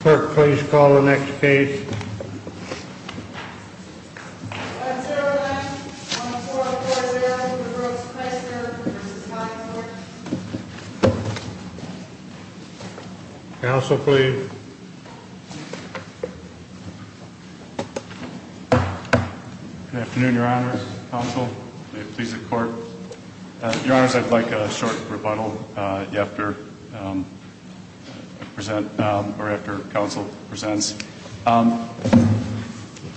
Clerk, please call the next case. Senator Lange, on the floor of the Board of Directors for the Brooks Chrysler v. Hyde Court. Counsel, please. Good afternoon, Your Honors. Counsel, may it please the Court. Your Honors, I'd like a short rebuttal after counsel presents.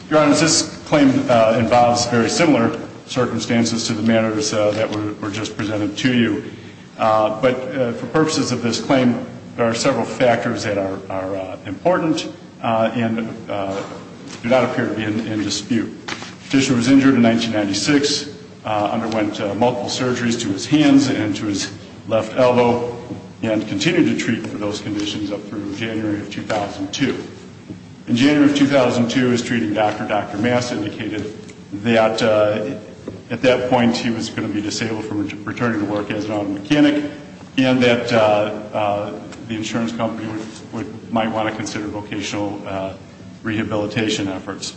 Your Honors, this claim involves very similar circumstances to the matters that were just presented to you. But for purposes of this claim, there are several factors that are important and do not appear to be in dispute. The petitioner was injured in 1996, underwent multiple surgeries to his hands and to his left elbow, and continued to treat for those conditions up through January of 2002. In January of 2002, his treating doctor, Dr. Mass, indicated that at that point he was going to be disabled from returning to work as an auto mechanic and that the insurance company might want to consider vocational rehabilitation efforts.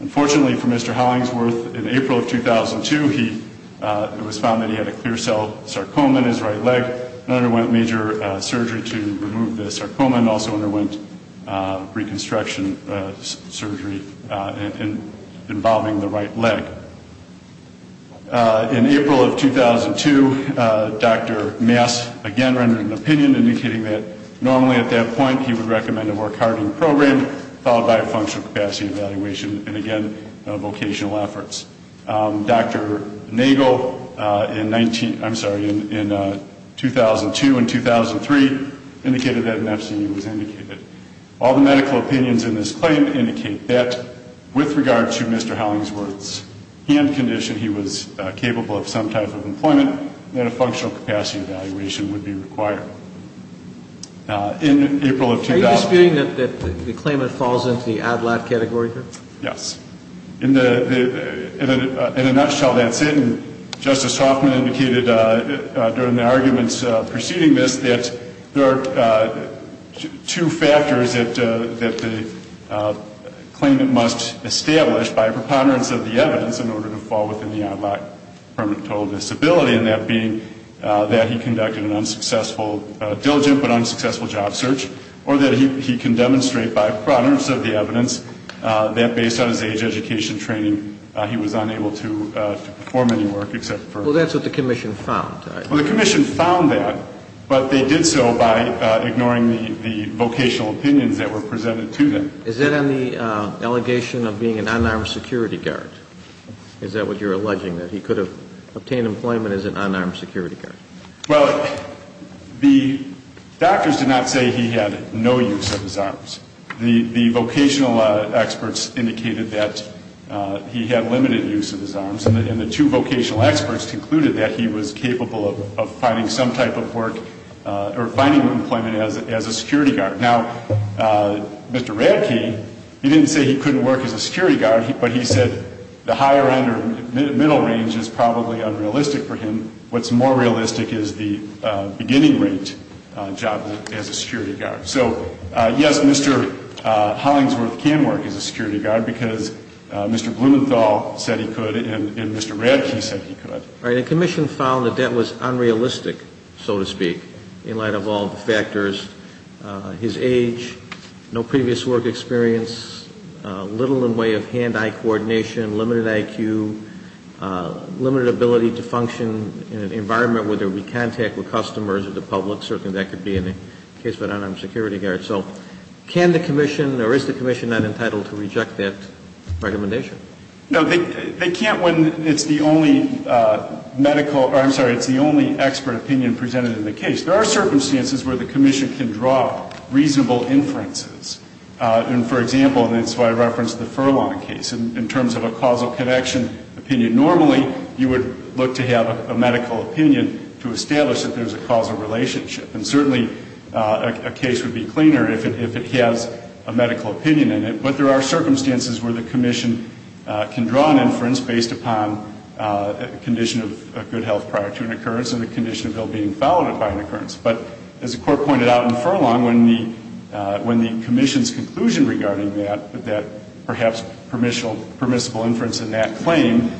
Unfortunately for Mr. Hollingsworth, in April of 2002, it was found that he had a clear cell sarcoma in his right leg and underwent major surgery to remove the sarcoma and also underwent reconstruction surgery involving the right leg. In April of 2002, Dr. Mass again rendered an opinion indicating that normally at that point, he would recommend a work-hardening program followed by a functional capacity evaluation and, again, vocational efforts. Dr. Nagle in 19, I'm sorry, in 2002 and 2003 indicated that an FCE was indicated. All the medical opinions in this claim indicate that with regard to Mr. Hollingsworth's hand condition, he was capable of some type of employment and a functional capacity evaluation would be required. In April of 2000. Are you disputing that the claimant falls into the ADLAT category here? Yes. In a nutshell, that's it. And Justice Hoffman indicated during the arguments preceding this that there are two factors that the claimant must establish by preponderance of the evidence in order to fall within the ADLAT, permanent total disability, and that being that he conducted an unsuccessful, diligent but unsuccessful job search, or that he can demonstrate by preponderance of the evidence that based on his age, education, training, he was unable to perform any work except for. Well, that's what the commission found. Well, the commission found that, but they did so by ignoring the vocational opinions that were presented to them. Is that on the allegation of being an unarmed security guard? Is that what you're alleging, that he could have obtained employment as an unarmed security guard? Well, the doctors did not say he had no use of his arms. The vocational experts indicated that he had limited use of his arms, and the two vocational experts concluded that he was capable of finding some type of work or finding employment as a security guard. Now, Mr. Radke, he didn't say he couldn't work as a security guard, but he said the higher end or middle range is probably unrealistic for him. What's more realistic is the beginning rate job as a security guard. So, yes, Mr. Hollingsworth can work as a security guard because Mr. Blumenthal said he could, and Mr. Radke said he could. All right. The commission found that that was unrealistic, so to speak, in light of all the factors, his age, no previous work experience, little in the way of hand-eye coordination, limited IQ, limited ability to function in an environment where there would be contact with customers or the public, certainly that could be in the case of an unarmed security guard. So can the commission, or is the commission not entitled to reject that recommendation? No, they can't when it's the only medical or, I'm sorry, it's the only expert opinion presented in the case. There are circumstances where the commission can draw reasonable inferences. And, for example, and that's why I referenced the Furlong case, in terms of a causal connection opinion, normally you would look to have a medical opinion to establish that there's a causal relationship. And certainly a case would be cleaner if it has a medical opinion in it. But there are circumstances where the commission can draw an inference based upon a condition of good health prior to an occurrence and a condition of well-being followed by an occurrence. But as the Court pointed out in Furlong, when the commission's conclusion regarding that, that perhaps permissible inference in that claim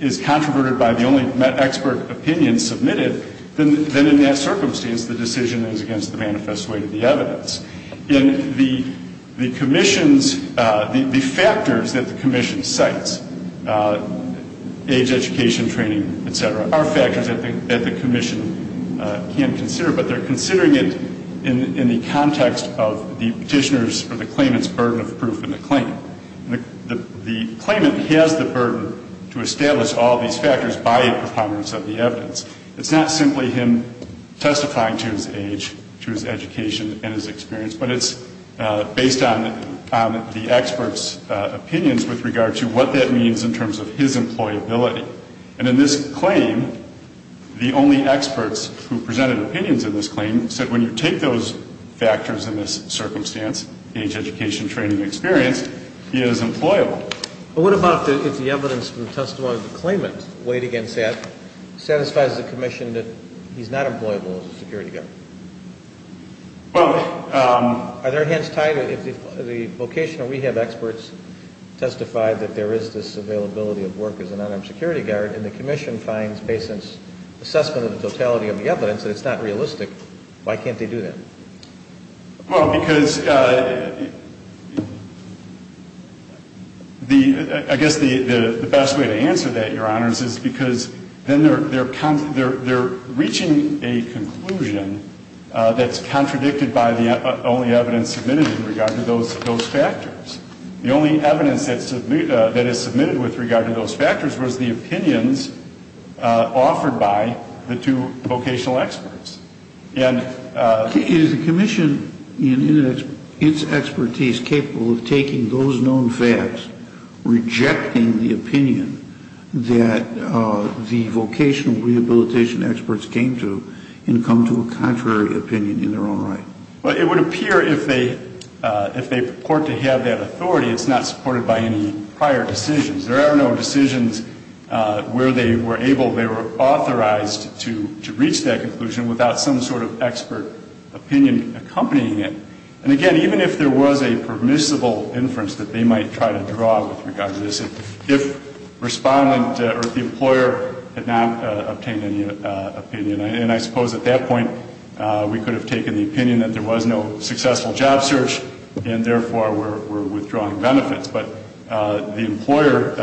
is controverted by the only expert opinion submitted, then in that circumstance the decision is against the manifest way to the evidence. In the commission's, the factors that the commission cites, age, education, training, et cetera, are factors that the commission can consider, but they're considering it in the context of the petitioner's or the claimant's burden of proof in the claim. The claimant has the burden to establish all these factors by a performance of the evidence. It's not simply him testifying to his age, to his education, and his experience, but it's based on the expert's opinions with regard to what that means in terms of his employability. And in this claim, the only experts who presented opinions in this claim said when you take those factors in this circumstance, age, education, training, experience, he is employable. But what about if the evidence from the testimony of the claimant weighed against that, satisfies the commission that he's not employable as a security guard? Are their hands tied? If the vocational rehab experts testified that there is this availability of work as an unarmed security guard and the commission finds based on its assessment of the totality of the evidence that it's not realistic, why can't they do that? Well, because I guess the best way to answer that, Your Honors, is because then they're reaching a conclusion that's contradicted by the only evidence submitted in regard to those factors. The only evidence that is submitted with regard to those factors was the opinions offered by the two vocational experts. And is the commission in its expertise capable of taking those known facts, rejecting the opinion that the vocational rehabilitation experts came to and come to a contrary opinion in their own right? Well, it would appear if they purport to have that authority, it's not supported by any prior decisions. There are no decisions where they were able, they were authorized to reach that conclusion without some sort of expert opinion accompanying it. And again, even if there was a permissible inference that they might try to draw with regard to this, if respondent or the employer had not obtained any opinion, and I suppose at that point we could have taken the opinion that there was no successful job search and therefore were withdrawing benefits. But the employer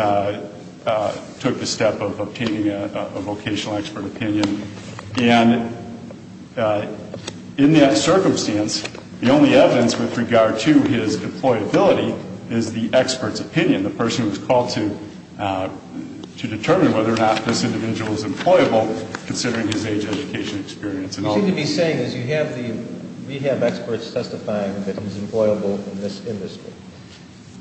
took the step of obtaining a vocational expert opinion. And in that circumstance, the only evidence with regard to his employability is the expert's opinion, the person who was called to determine whether or not this individual is employable, considering his age, education, experience, and all that. What you seem to be saying is you have the rehab experts testifying that he's employable in this industry.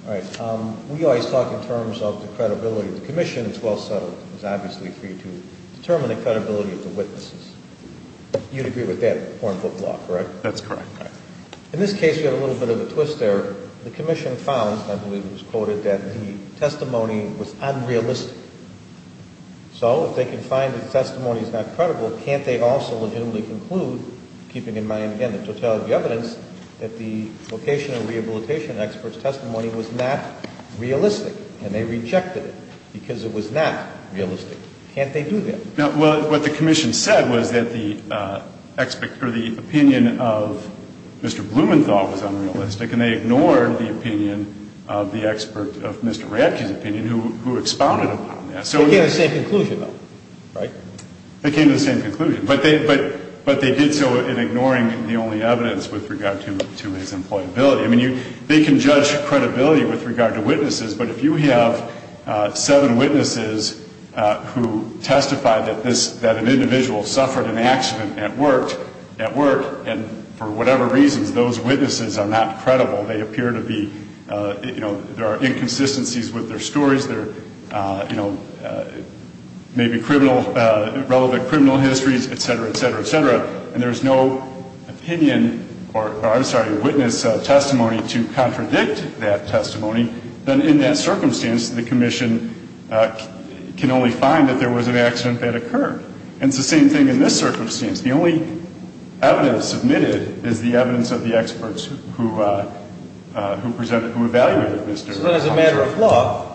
All right. We always talk in terms of the credibility of the commission. It's well settled. It's obviously for you to determine the credibility of the witnesses. You'd agree with that point of law, correct? That's correct. In this case, you have a little bit of a twist there. The commission found, I believe it was quoted, that the testimony was unrealistic. So if they can find that the testimony is not credible, can't they also legitimately conclude, keeping in mind, again, the totality of the evidence, that the vocational rehabilitation expert's testimony was not realistic, and they rejected it because it was not realistic? Can't they do that? Well, what the commission said was that the opinion of Mr. Blumenthal was unrealistic, and they ignored the opinion of the expert of Mr. Radke's opinion, who expounded upon that. They came to the same conclusion, though, right? They came to the same conclusion. But they did so in ignoring the only evidence with regard to his employability. I mean, they can judge credibility with regard to witnesses, but if you have seven witnesses who testify that an individual suffered an accident at work, and for whatever reasons, those witnesses are not credible, they appear to be, you know, there are inconsistencies with their stories, there may be relevant criminal histories, et cetera, et cetera, et cetera, and there's no opinion, or I'm sorry, witness testimony to contradict that testimony, then in that circumstance, the commission can only find that there was an accident that occurred. The only evidence submitted is the evidence of the experts who evaluated Mr. Blumenthal. So then as a matter of law,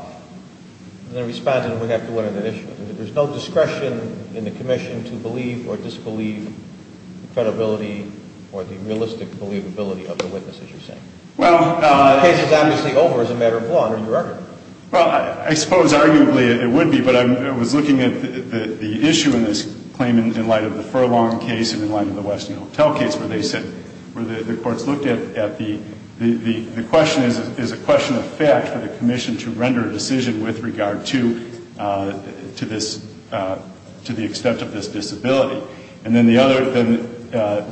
the respondent would have to win an issue. There's no discretion in the commission to believe or disbelieve the credibility or the realistic believability of the witness, as you're saying. The case is obviously over as a matter of law under your argument. Well, I suppose arguably it would be, but I was looking at the issue in this claim in light of the Furlong case and in light of the Western Hotel case where they said, where the courts looked at the question as a question of fact for the commission to render a decision with regard to this, to the extent of this disability. And then the other,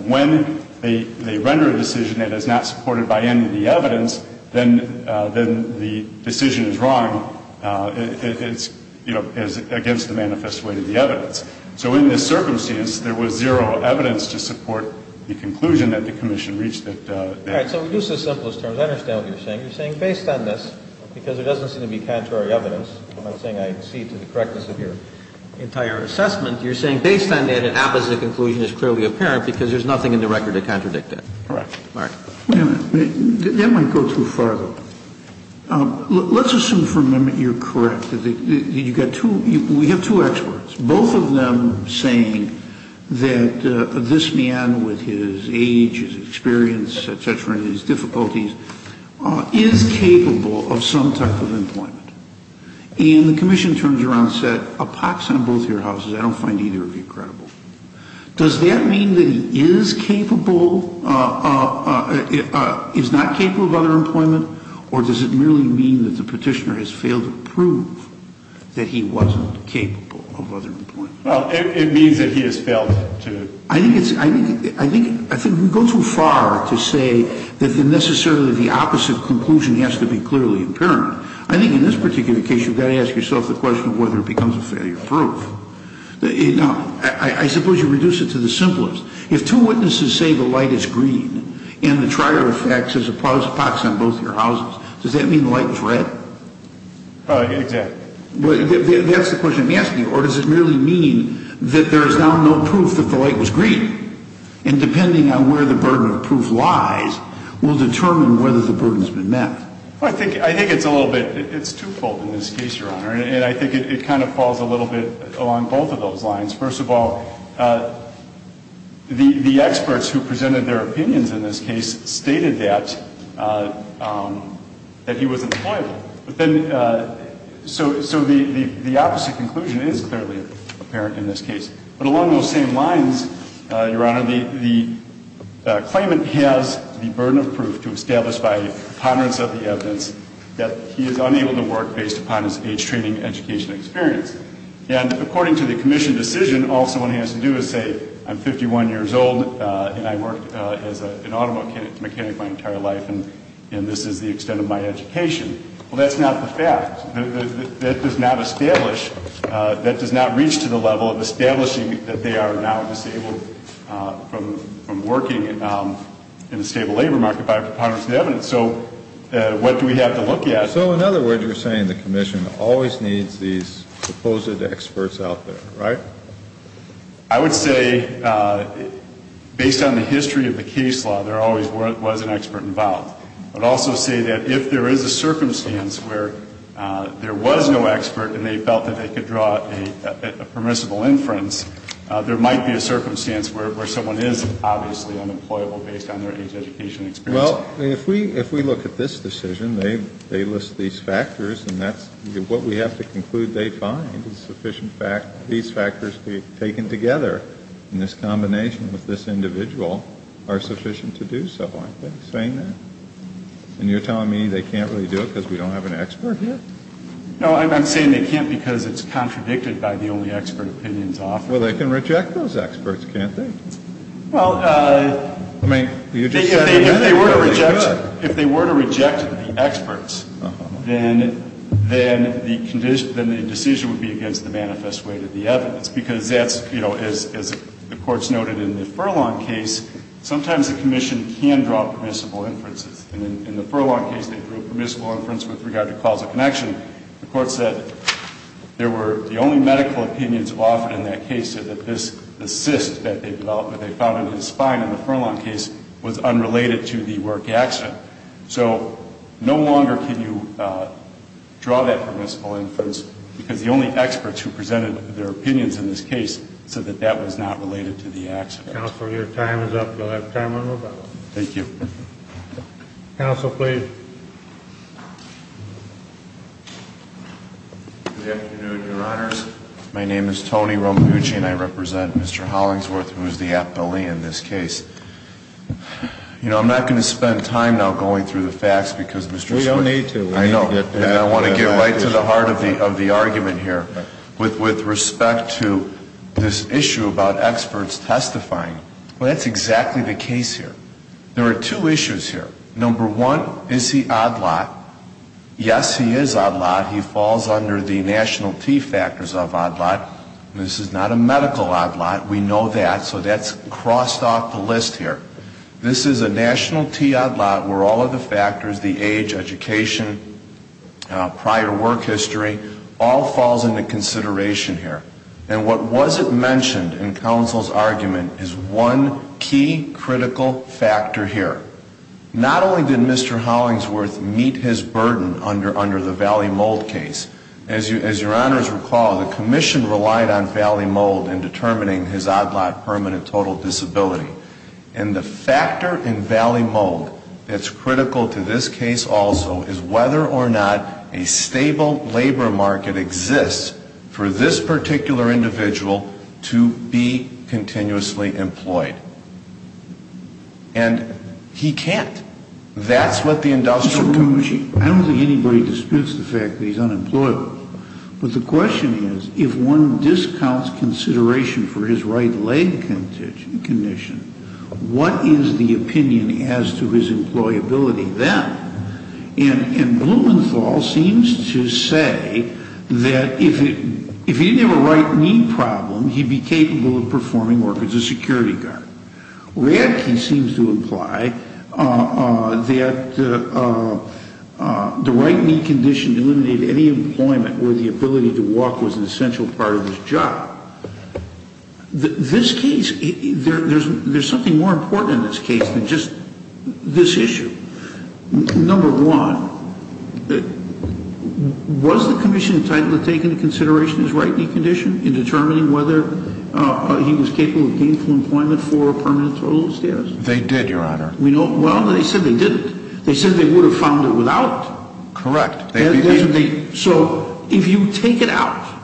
when they render a decision that is not supported by any of the evidence, then the decision is wrong, it's, you know, against the manifest way of the evidence. So in this circumstance, there was zero evidence to support the conclusion that the commission reached at that point. All right. So we'll use the simplest terms. I understand what you're saying. You're saying based on this, because there doesn't seem to be contrary evidence, I'm not saying I accede to the correctness of your entire assessment. You're saying based on that, an opposite conclusion is clearly apparent because there's nothing in the record to contradict that. Correct. All right. That might go too far, though. Let's assume for a moment you're correct. We have two experts. Both of them saying that this man with his age, his experience, et cetera, and his difficulties is capable of some type of employment. And the commission terms you're on set a pox on both your houses. I don't find either of you credible. Does that mean that he is capable, is not capable of other employment, or does it merely mean that the petitioner has failed to prove that he wasn't capable of other employment? Well, it means that he has failed to. I think you go too far to say that necessarily the opposite conclusion has to be clearly apparent. I think in this particular case you've got to ask yourself the question of whether it becomes a failure of proof. I suppose you reduce it to the simplest. If two witnesses say the light is green, and the trier effects is a pox on both your houses, does that mean the light is red? Exactly. That's the question I'm asking you. Or does it merely mean that there is now no proof that the light was green? And depending on where the burden of proof lies will determine whether the burden has been met. I think it's a little bit, it's twofold in this case, Your Honor. And I think it kind of falls a little bit along both of those lines. First of all, the experts who presented their opinions in this case stated that he was employable. So the opposite conclusion is clearly apparent in this case. But along those same lines, Your Honor, the claimant has the burden of proof to establish by a preponderance of the evidence that he is unable to work based upon his age, training, education, experience. And according to the commission decision, all someone has to do is say, I'm 51 years old, and I worked as an auto mechanic my entire life, and this is the extent of my education. Well, that's not the fact. That does not establish, that does not reach to the level of establishing that they are now disabled from working in a stable labor market by a preponderance of the evidence. So what do we have to look at? So in other words, you're saying the commission always needs these supposed experts out there, right? I would say, based on the history of the case law, there always was an expert involved. I would also say that if there is a circumstance where there was no expert and they felt that they could draw a permissible inference, there might be a circumstance where someone is obviously unemployable based on their age, education, experience. Well, if we look at this decision, they list these factors, and that's what we have to conclude they find is sufficient, these factors taken together in this combination with this individual are sufficient to do so, aren't they, saying that? And you're telling me they can't really do it because we don't have an expert here? No, I'm saying they can't because it's contradicted by the only expert opinions offered. Well, they can reject those experts, can't they? Well, if they were to reject the experts, then the decision would be against the manifest way to the evidence because that's, you know, as the courts noted in the Furlong case, sometimes the commission can draw permissible inferences. And in the Furlong case, they drew a permissible inference with regard to causal connection. The court said there were the only medical opinions offered in that case so that this assist that they developed that they found in his spine in the Furlong case was unrelated to the work accident. So no longer can you draw that permissible inference because the only experts who presented their opinions in this case said that that was not related to the accident. Counsel, your time is up. You'll have time on rebuttal. Thank you. Counsel, please. Good afternoon, Your Honors. My name is Tony Rombucci, and I represent Mr. Hollingsworth, who is the appellee in this case. You know, I'm not going to spend time now going through the facts because Mr. Swift We don't need to. I know. And I want to get right to the heart of the argument here with respect to this issue about experts testifying. Well, that's exactly the case here. There are two issues here. Number one, is he odd lot? Yes, he is odd lot. He falls under the national T factors of odd lot. This is not a medical odd lot. We know that, so that's crossed off the list here. This is a national T odd lot where all of the factors, the age, education, prior work history, all falls into consideration here. And what wasn't mentioned in counsel's argument is one key critical factor here. Not only did Mr. Hollingsworth meet his burden under the Valley Mold case, as Your Honors recall, the commission relied on Valley Mold in determining his odd lot permanent total disability. And the factor in Valley Mold that's critical to this case also is whether or not a stable labor market exists for this particular individual to be continuously employed. And he can't. That's what the industrial commission. I don't think anybody disputes the fact that he's unemployable. But the question is, if one discounts consideration for his right leg condition, what is the opinion as to his employability then? And Blumenthal seems to say that if he didn't have a right knee problem, he'd be capable of performing work as a security guard. Radke seems to imply that the right knee condition eliminated any employment where the ability to walk was an essential part of his job. This case, there's something more important in this case than just this issue. Number one, was the commission entitled to take into consideration his right knee condition in determining whether he was capable of gainful employment for a permanent total status? They did, Your Honor. Well, they said they didn't. They said they would have found it without. Correct. So if you take it out,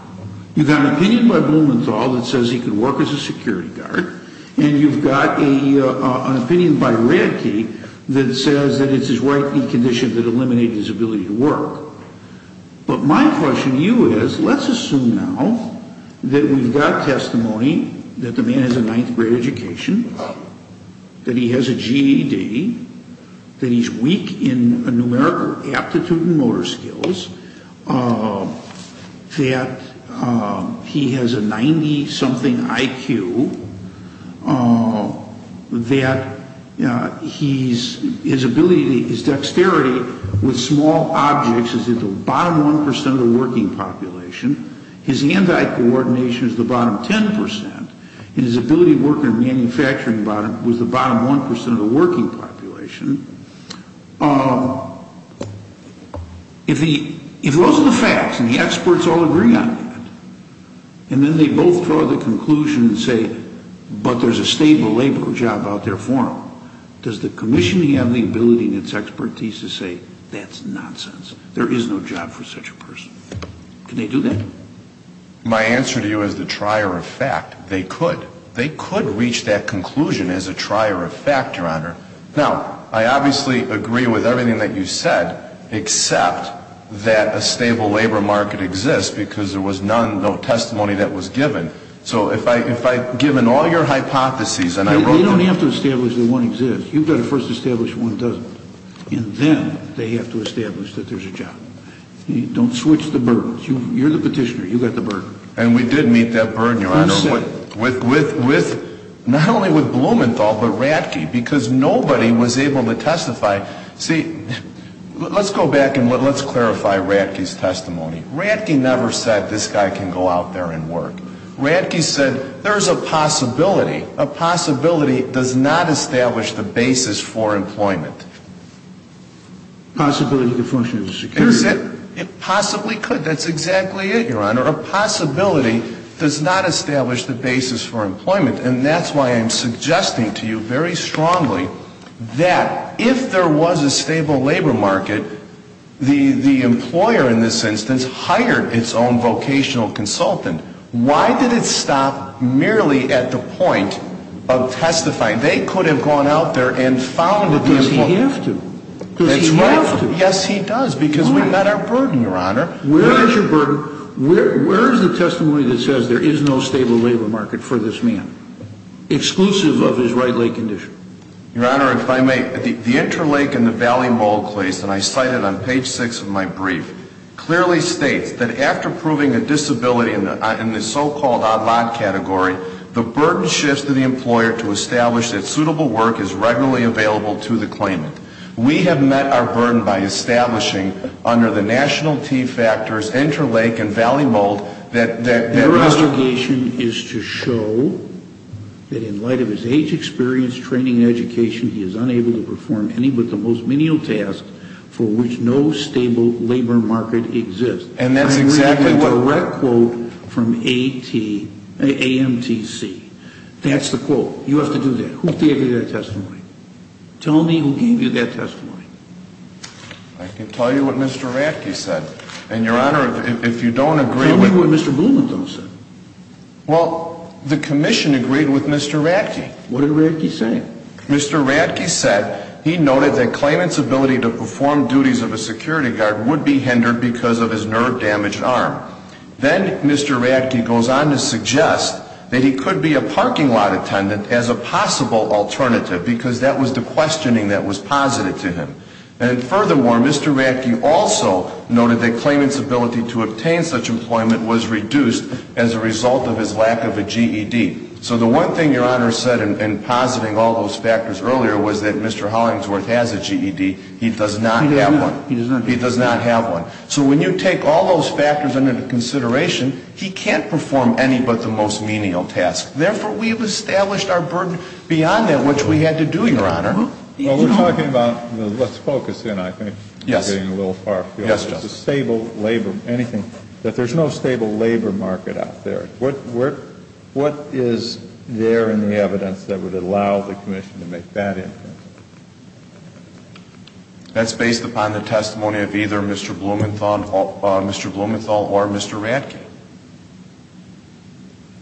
you've got an opinion by Blumenthal that says he could work as a security guard, and you've got an opinion by Radke that says that it's his right knee condition that eliminated his ability to work. But my question to you is, let's assume now that we've got testimony that the man has a ninth grade education, that he has a GED, that he's weak in a numerical aptitude and motor skills, that he has a 90-something IQ, that his ability, his dexterity with small objects is at the bottom 1% of the working population, his hand-eye coordination is the bottom 10%, and his ability to work in a manufacturing bottom was the bottom 1% of the working population. If those are the facts, and the experts all agree on that, and then they both draw the conclusion and say, but there's a stable labor job out there for him, does the commissioning have the ability and its expertise to say, that's nonsense. There is no job for such a person. Can they do that? My answer to you is the trier of fact. They could. They could reach that conclusion as a trier of fact, Your Honor. Now, I obviously agree with everything that you said, except that a stable labor market exists because there was none, no testimony that was given. So if I, given all your hypotheses, and I wrote them. You don't have to establish that one exists. You've got to first establish that one doesn't. And then they have to establish that there's a job. Don't switch the burdens. You're the petitioner. And we did meet that burden, Your Honor. Who said it? Not only with Blumenthal, but Ratke. Because nobody was able to testify. See, let's go back and let's clarify Ratke's testimony. Ratke never said, this guy can go out there and work. Ratke said, there's a possibility. A possibility does not establish the basis for employment. Possibility to function as a security guard. Possibly could. That's exactly it, Your Honor. A possibility does not establish the basis for employment. And that's why I'm suggesting to you very strongly that if there was a stable labor market, the employer, in this instance, hired its own vocational consultant. Why did it stop merely at the point of testifying? They could have gone out there and found it. Does he have to? That's right. Does he have to? Yes, he does, because we met our burden, Your Honor. Where is your burden? Where is the testimony that says there is no stable labor market for this man? Exclusive of his right leg condition. Your Honor, if I may, the interlake and the valley mold case, and I cite it on page 6 of my brief, clearly states that after proving a disability in the so-called odd-lot category, the burden shifts to the employer to establish that suitable work is regularly available to the claimant. We have met our burden by establishing under the national T factors interlake and valley mold that Mr. Your obligation is to show that in light of his age experience, training, and education, he is unable to perform any but the most menial tasks for which no stable labor market exists. And that's exactly what I'm reading a direct quote from AMTC. That's the quote. You have to do that. Who gave you that testimony? Tell me who gave you that testimony. I can tell you what Mr. Ratke said. And, Your Honor, if you don't agree with Tell me what Mr. Blumenthal said. Well, the commission agreed with Mr. Ratke. What did Ratke say? Mr. Ratke said he noted that claimant's ability to perform duties of a security guard would be hindered because of his nerve-damaged arm. Then Mr. Ratke goes on to suggest that he could be a parking lot attendant as a possible alternative because that was the questioning that was posited to him. And furthermore, Mr. Ratke also noted that claimant's ability to obtain such employment was reduced as a result of his lack of a GED. So the one thing Your Honor said in positing all those factors earlier was that Mr. Hollingsworth has a GED. He does not have one. He does not. He does not have one. So when you take all those factors into consideration, he can't perform any but the most menial task. Therefore, we've established our burden beyond that which we had to do, Your Honor. Well, we're talking about the let's focus in, I think. Yes. We're getting a little far. Yes, Justice. The stable labor, anything, that there's no stable labor market out there. What is there in the evidence that would allow the commission to make that inference? That's based upon the testimony of either Mr. Blumenthal or Mr. Ratke.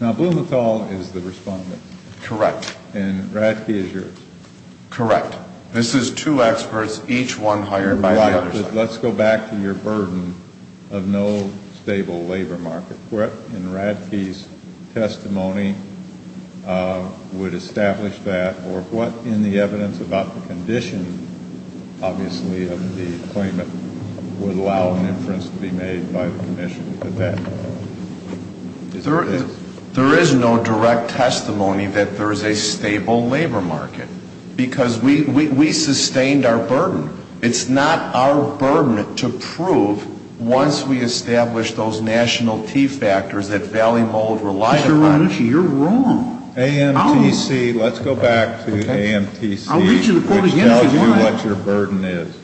Now, Blumenthal is the respondent. Correct. And Ratke is yours. Correct. This is two experts, each one hired by the other side. Let's go back to your burden of no stable labor market. What in Ratke's testimony would establish that? Or what in the evidence about the condition, obviously, of the claimant would allow an inference to be made by the commission at that point? There is no direct testimony that there is a stable labor market because we sustained our burden. It's not our burden to prove once we establish those national key factors that Valley Mold relied upon. Mr. Ronucci, you're wrong. AMTC, let's go back to AMTC. I'll read you the quote again if you want. Which tells you what your burden is.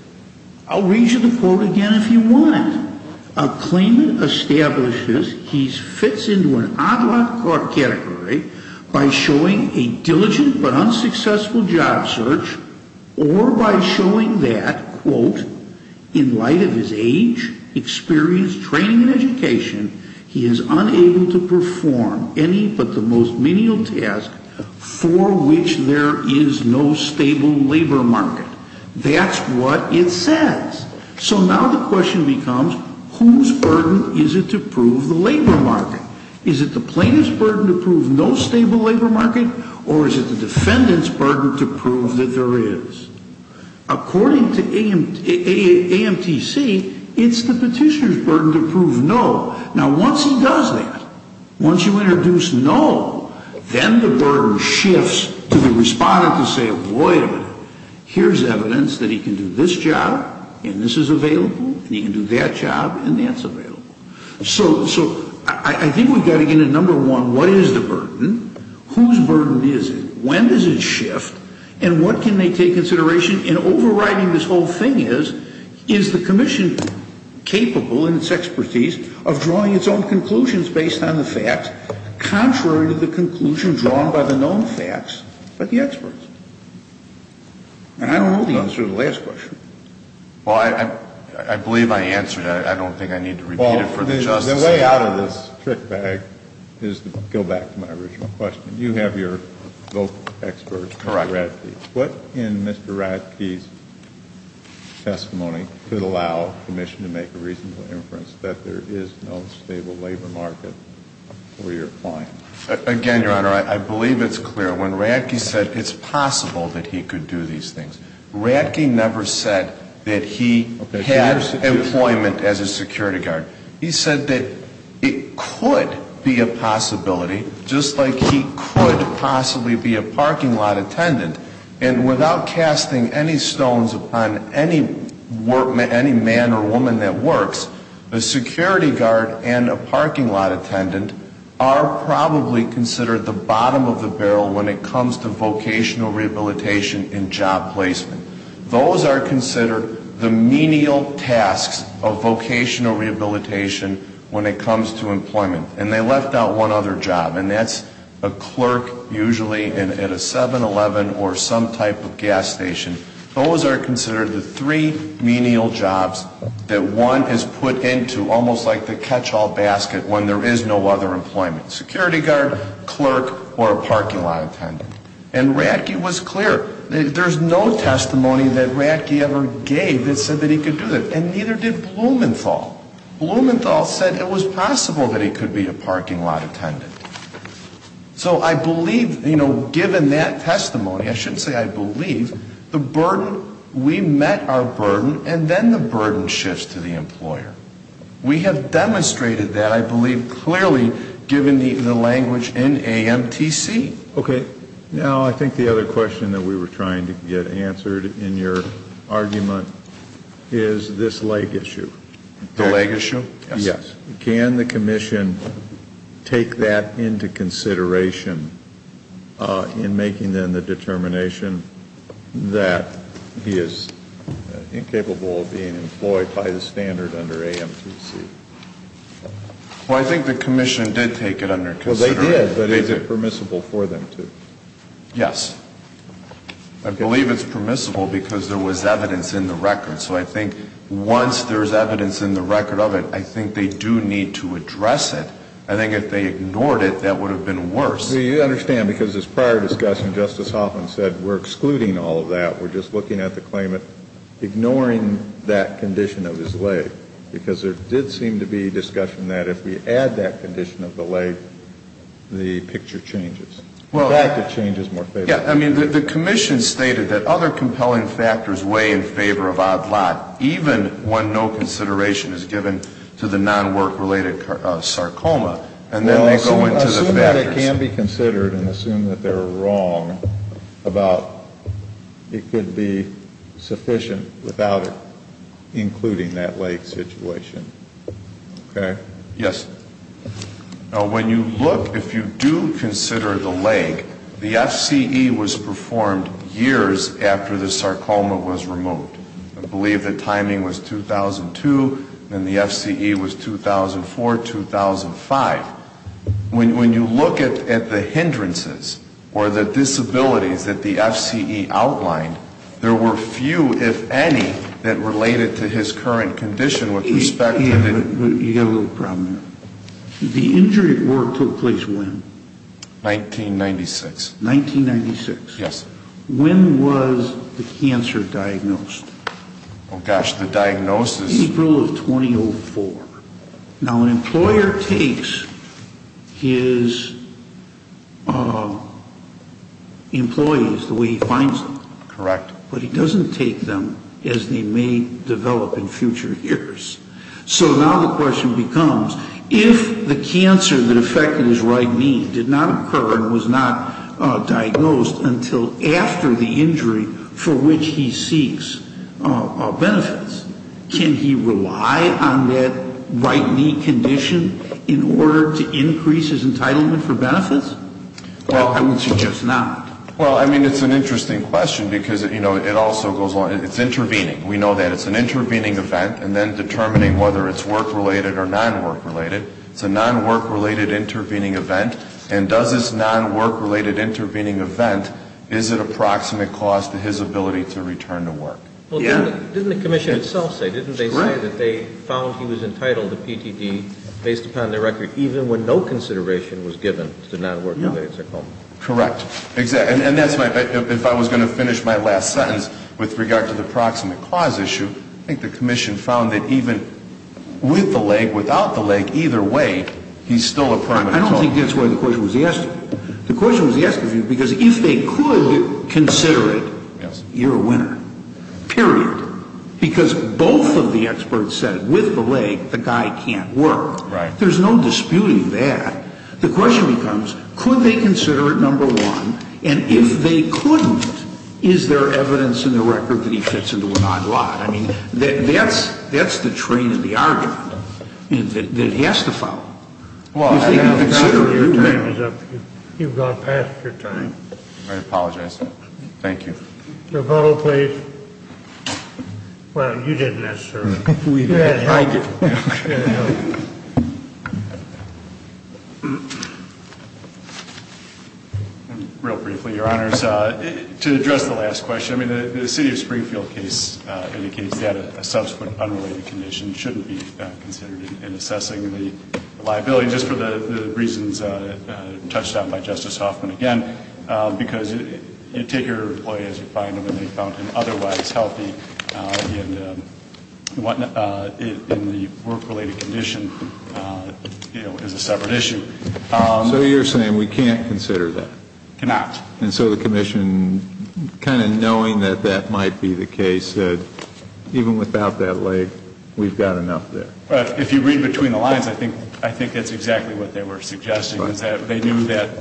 I'll read you the quote again if you want. And a claimant establishes he fits into an odd lot category by showing a diligent but unsuccessful job search or by showing that, quote, in light of his age, experience, training, and education, he is unable to perform any but the most menial task for which there is no stable labor market. That's what it says. So now the question becomes, whose burden is it to prove the labor market? Is it the plaintiff's burden to prove no stable labor market? Or is it the defendant's burden to prove that there is? According to AMTC, it's the petitioner's burden to prove no. Now, once he does that, once you introduce no, then the burden shifts to the respondent to say, wait a minute. Here's evidence that he can do this job, and this is available, and he can do that job, and that's available. So I think we've got to get into number one. What is the burden? Whose burden is it? When does it shift? And what can they take consideration? And overriding this whole thing is, is the commission capable in its expertise of drawing its own conclusions based on the facts, contrary to the conclusions drawn by the known facts by the experts. And I don't know the answer to the last question. Well, I believe I answered it. I don't think I need to repeat it for the Justice. Well, the way out of this trick bag is to go back to my original question. You have your vocal experts, Mr. Ratke. Correct. What in Mr. Ratke's testimony could allow the commission to make a reasonable inference that there is no stable labor market where you're applying? Again, Your Honor, I believe it's clear. When Ratke said it's possible that he could do these things, Ratke never said that he had employment as a security guard. He said that it could be a possibility, just like he could possibly be a parking lot attendant, and without casting any stones upon any man or woman that works, a security guard and a parking lot attendant are probably considered the bottom of the barrel when it comes to vocational rehabilitation and job placement. Those are considered the menial tasks of vocational rehabilitation when it comes to employment. And they left out one other job, and that's a clerk usually at a 7-Eleven or some type of gas station. Those are considered the three menial jobs that one is put into almost like the catch-all basket when there is no other employment, security guard, clerk, or a parking lot attendant. And Ratke was clear. There's no testimony that Ratke ever gave that said that he could do that, and neither did Blumenthal. Blumenthal said it was possible that he could be a parking lot attendant. So I believe, you know, given that testimony, I shouldn't say I believe, the burden, we met our burden, and then the burden shifts to the employer. We have demonstrated that, I believe, clearly given the language in AMTC. Okay. Now, I think the other question that we were trying to get answered in your argument is this leg issue. The leg issue? Yes. Can the commission take that into consideration in making, then, the determination that he is incapable of being employed by the standard under AMTC? Well, they did, but is it permissible for them to? Yes. I believe it's permissible because there was evidence in the record. So I think once there's evidence in the record of it, I think they do need to address it. I think if they ignored it, that would have been worse. Well, you understand, because this prior discussion, Justice Hoffman said we're excluding all of that. We're just looking at the claimant ignoring that condition of his leg, because there did seem to be discussion that if we add that condition of the leg, the picture changes. In fact, it changes more favorably. Yeah. I mean, the commission stated that other compelling factors weigh in favor of odd lot, even when no consideration is given to the non-work-related sarcoma, and then they go into the factors. Well, assume that it can be considered and assume that they're wrong about it could be sufficient without it, including that leg situation. Okay? Yes. When you look, if you do consider the leg, the FCE was performed years after the sarcoma was removed. I believe the timing was 2002, and the FCE was 2004, 2005. When you look at the hindrances or the disabilities that the FCE outlined, there were few, if any, that related to his current condition with respect to the The injury at work took place when? 1996. 1996. Yes. When was the cancer diagnosed? Oh, gosh, the diagnosis? April of 2004. Now, an employer takes his employees the way he finds them. Correct. But he doesn't take them as they may develop in future years. So now the question becomes, if the cancer that affected his right knee did not occur and was not diagnosed until after the injury for which he seeks benefits, can he rely on that right knee condition in order to increase his entitlement for benefits? I would suggest not. Well, I mean, it's an interesting question because, you know, it also goes on. It's intervening. We know that. It's an intervening event, and then determining whether it's work-related or non-work-related. It's a non-work-related intervening event. And does this non-work-related intervening event, is it a proximate cost to his ability to return to work? Yeah. Didn't the commission itself say, didn't they say that they found he was entitled to PTD based upon the record, even when no consideration was given to non-work-related Correct. And that's my, if I was going to finish my last sentence with regard to the proximate cause issue, I think the commission found that even with the leg, without the leg, either way, he's still a primate. I don't think that's why the question was asked of you. The question was asked of you because if they could consider it, you're a winner. Period. Because both of the experts said, with the leg, the guy can't work. Right. There's no disputing that. The question becomes, could they consider it, number one? And if they couldn't, is there evidence in the record that he fits into a non-lot? I mean, that's the train of the argument that he has to follow. Well, your time is up. You've gone past your time. I apologize. Thank you. Your vote, please. Well, you didn't necessarily. I did. Okay. Real briefly, your honors, to address the last question, I mean the city of Springfield case indicates that a subsequent unrelated condition shouldn't be considered in assessing the liability just for the reasons touched on by Justice Hoffman again, because you take your employee as you find them and they found him otherwise healthy and in the work-related condition, you know, is a separate issue. So you're saying we can't consider that? Cannot. And so the commission, kind of knowing that that might be the case, said even without that leg, we've got enough there. If you read between the lines, I think that's exactly what they were suggesting, is that they knew that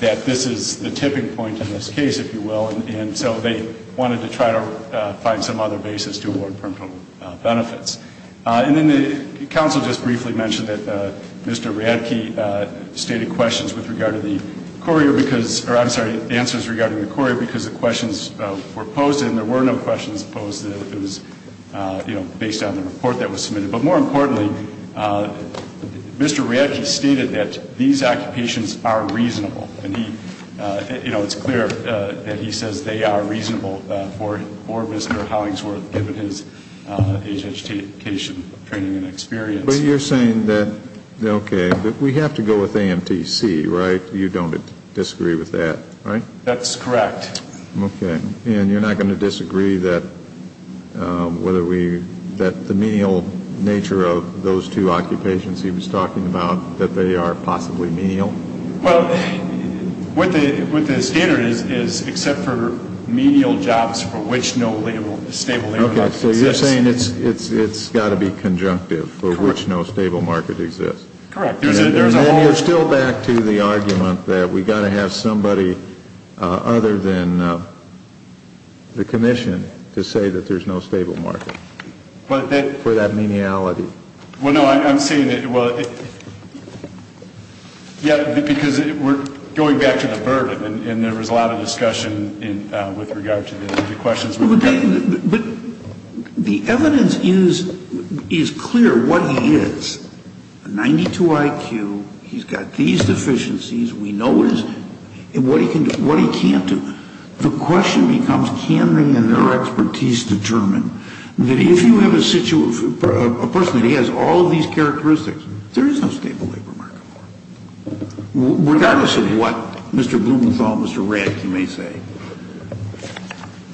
this is the tipping point in this case, if you will, and so they wanted to try to find some other basis to award parental benefits. And then the counsel just briefly mentioned that Mr. Radke stated questions with regard to the courier because or, I'm sorry, answers regarding the courier because the questions were posed and there were no questions posed that it was, you know, based on the report that was submitted. But more importantly, Mr. Radke stated that these occupations are reasonable. And he, you know, it's clear that he says they are reasonable for Mr. Hollingsworth, given his age, education, training and experience. But you're saying that, okay, we have to go with AMTC, right? You don't disagree with that, right? That's correct. Okay. And you're not going to disagree that the menial nature of those two occupations he was talking about, that they are possibly menial? Well, what the standard is, is except for menial jobs for which no stable market exists. Okay. So you're saying it's got to be conjunctive for which no stable market exists. Correct. And you're still back to the argument that we've got to have somebody other than the commission to say that there's no stable market for that meniality. Well, no, I'm saying that, well, yeah, because we're going back to the burden and there was a lot of discussion with regard to the questions. But the evidence is clear what he is. A 92 IQ, he's got these deficiencies, we know what he can do, what he can't do. The question becomes can they in their expertise determine that if you have a person that has all of these characteristics, there is no stable labor market. Regardless of what Mr. Blumenthal and Mr. Radtke may say.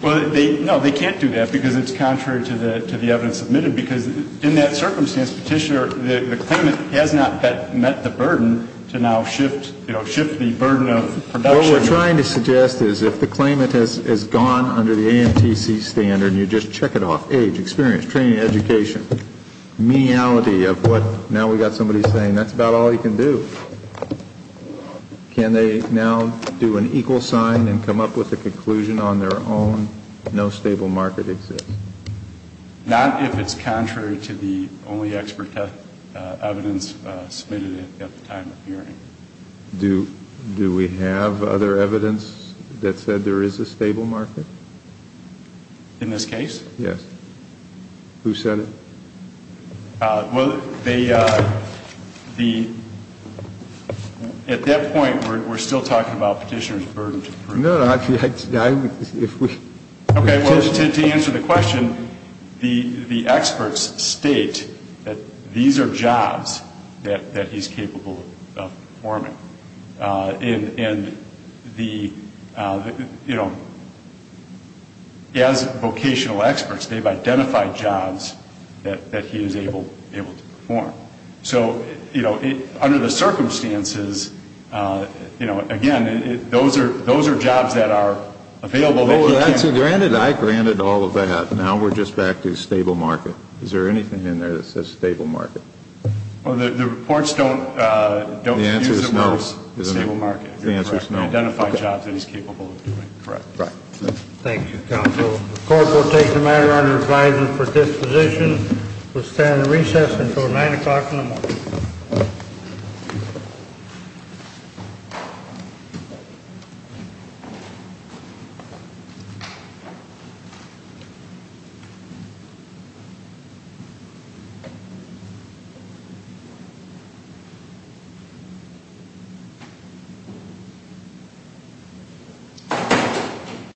Well, no, they can't do that because it's contrary to the evidence submitted because in that circumstance, Petitioner, the claimant has not met the burden to now shift the burden of production. What we're trying to suggest is if the claimant has gone under the AMTC standard, you just check it off, age, experience, training, education, meniality of what now we've got somebody saying that's about all he can do. Can they now do an equal sign and come up with a conclusion on their own, no stable market exists? Not if it's contrary to the only expert evidence submitted at the time of hearing. Do we have other evidence that said there is a stable market? In this case? Yes. Who said it? Well, they, the, at that point, we're still talking about Petitioner's burden to produce. No, no, I'm, if we. Okay, well, to answer the question, the experts state that these are jobs that he's capable of performing. And the, you know, as vocational experts, they've identified jobs that he is able to perform. So, you know, under the circumstances, you know, again, those are jobs that are available that he can. Well, granted, I granted all of that. Now we're just back to stable market. Is there anything in there that says stable market? Well, the reports don't, don't. The answer is no. The answer is no. Identify jobs that he's capable of doing. Correct. Thank you, counsel. The court will take the matter under advisement for disposition. We'll stand at recess until 9 o'clock in the morning.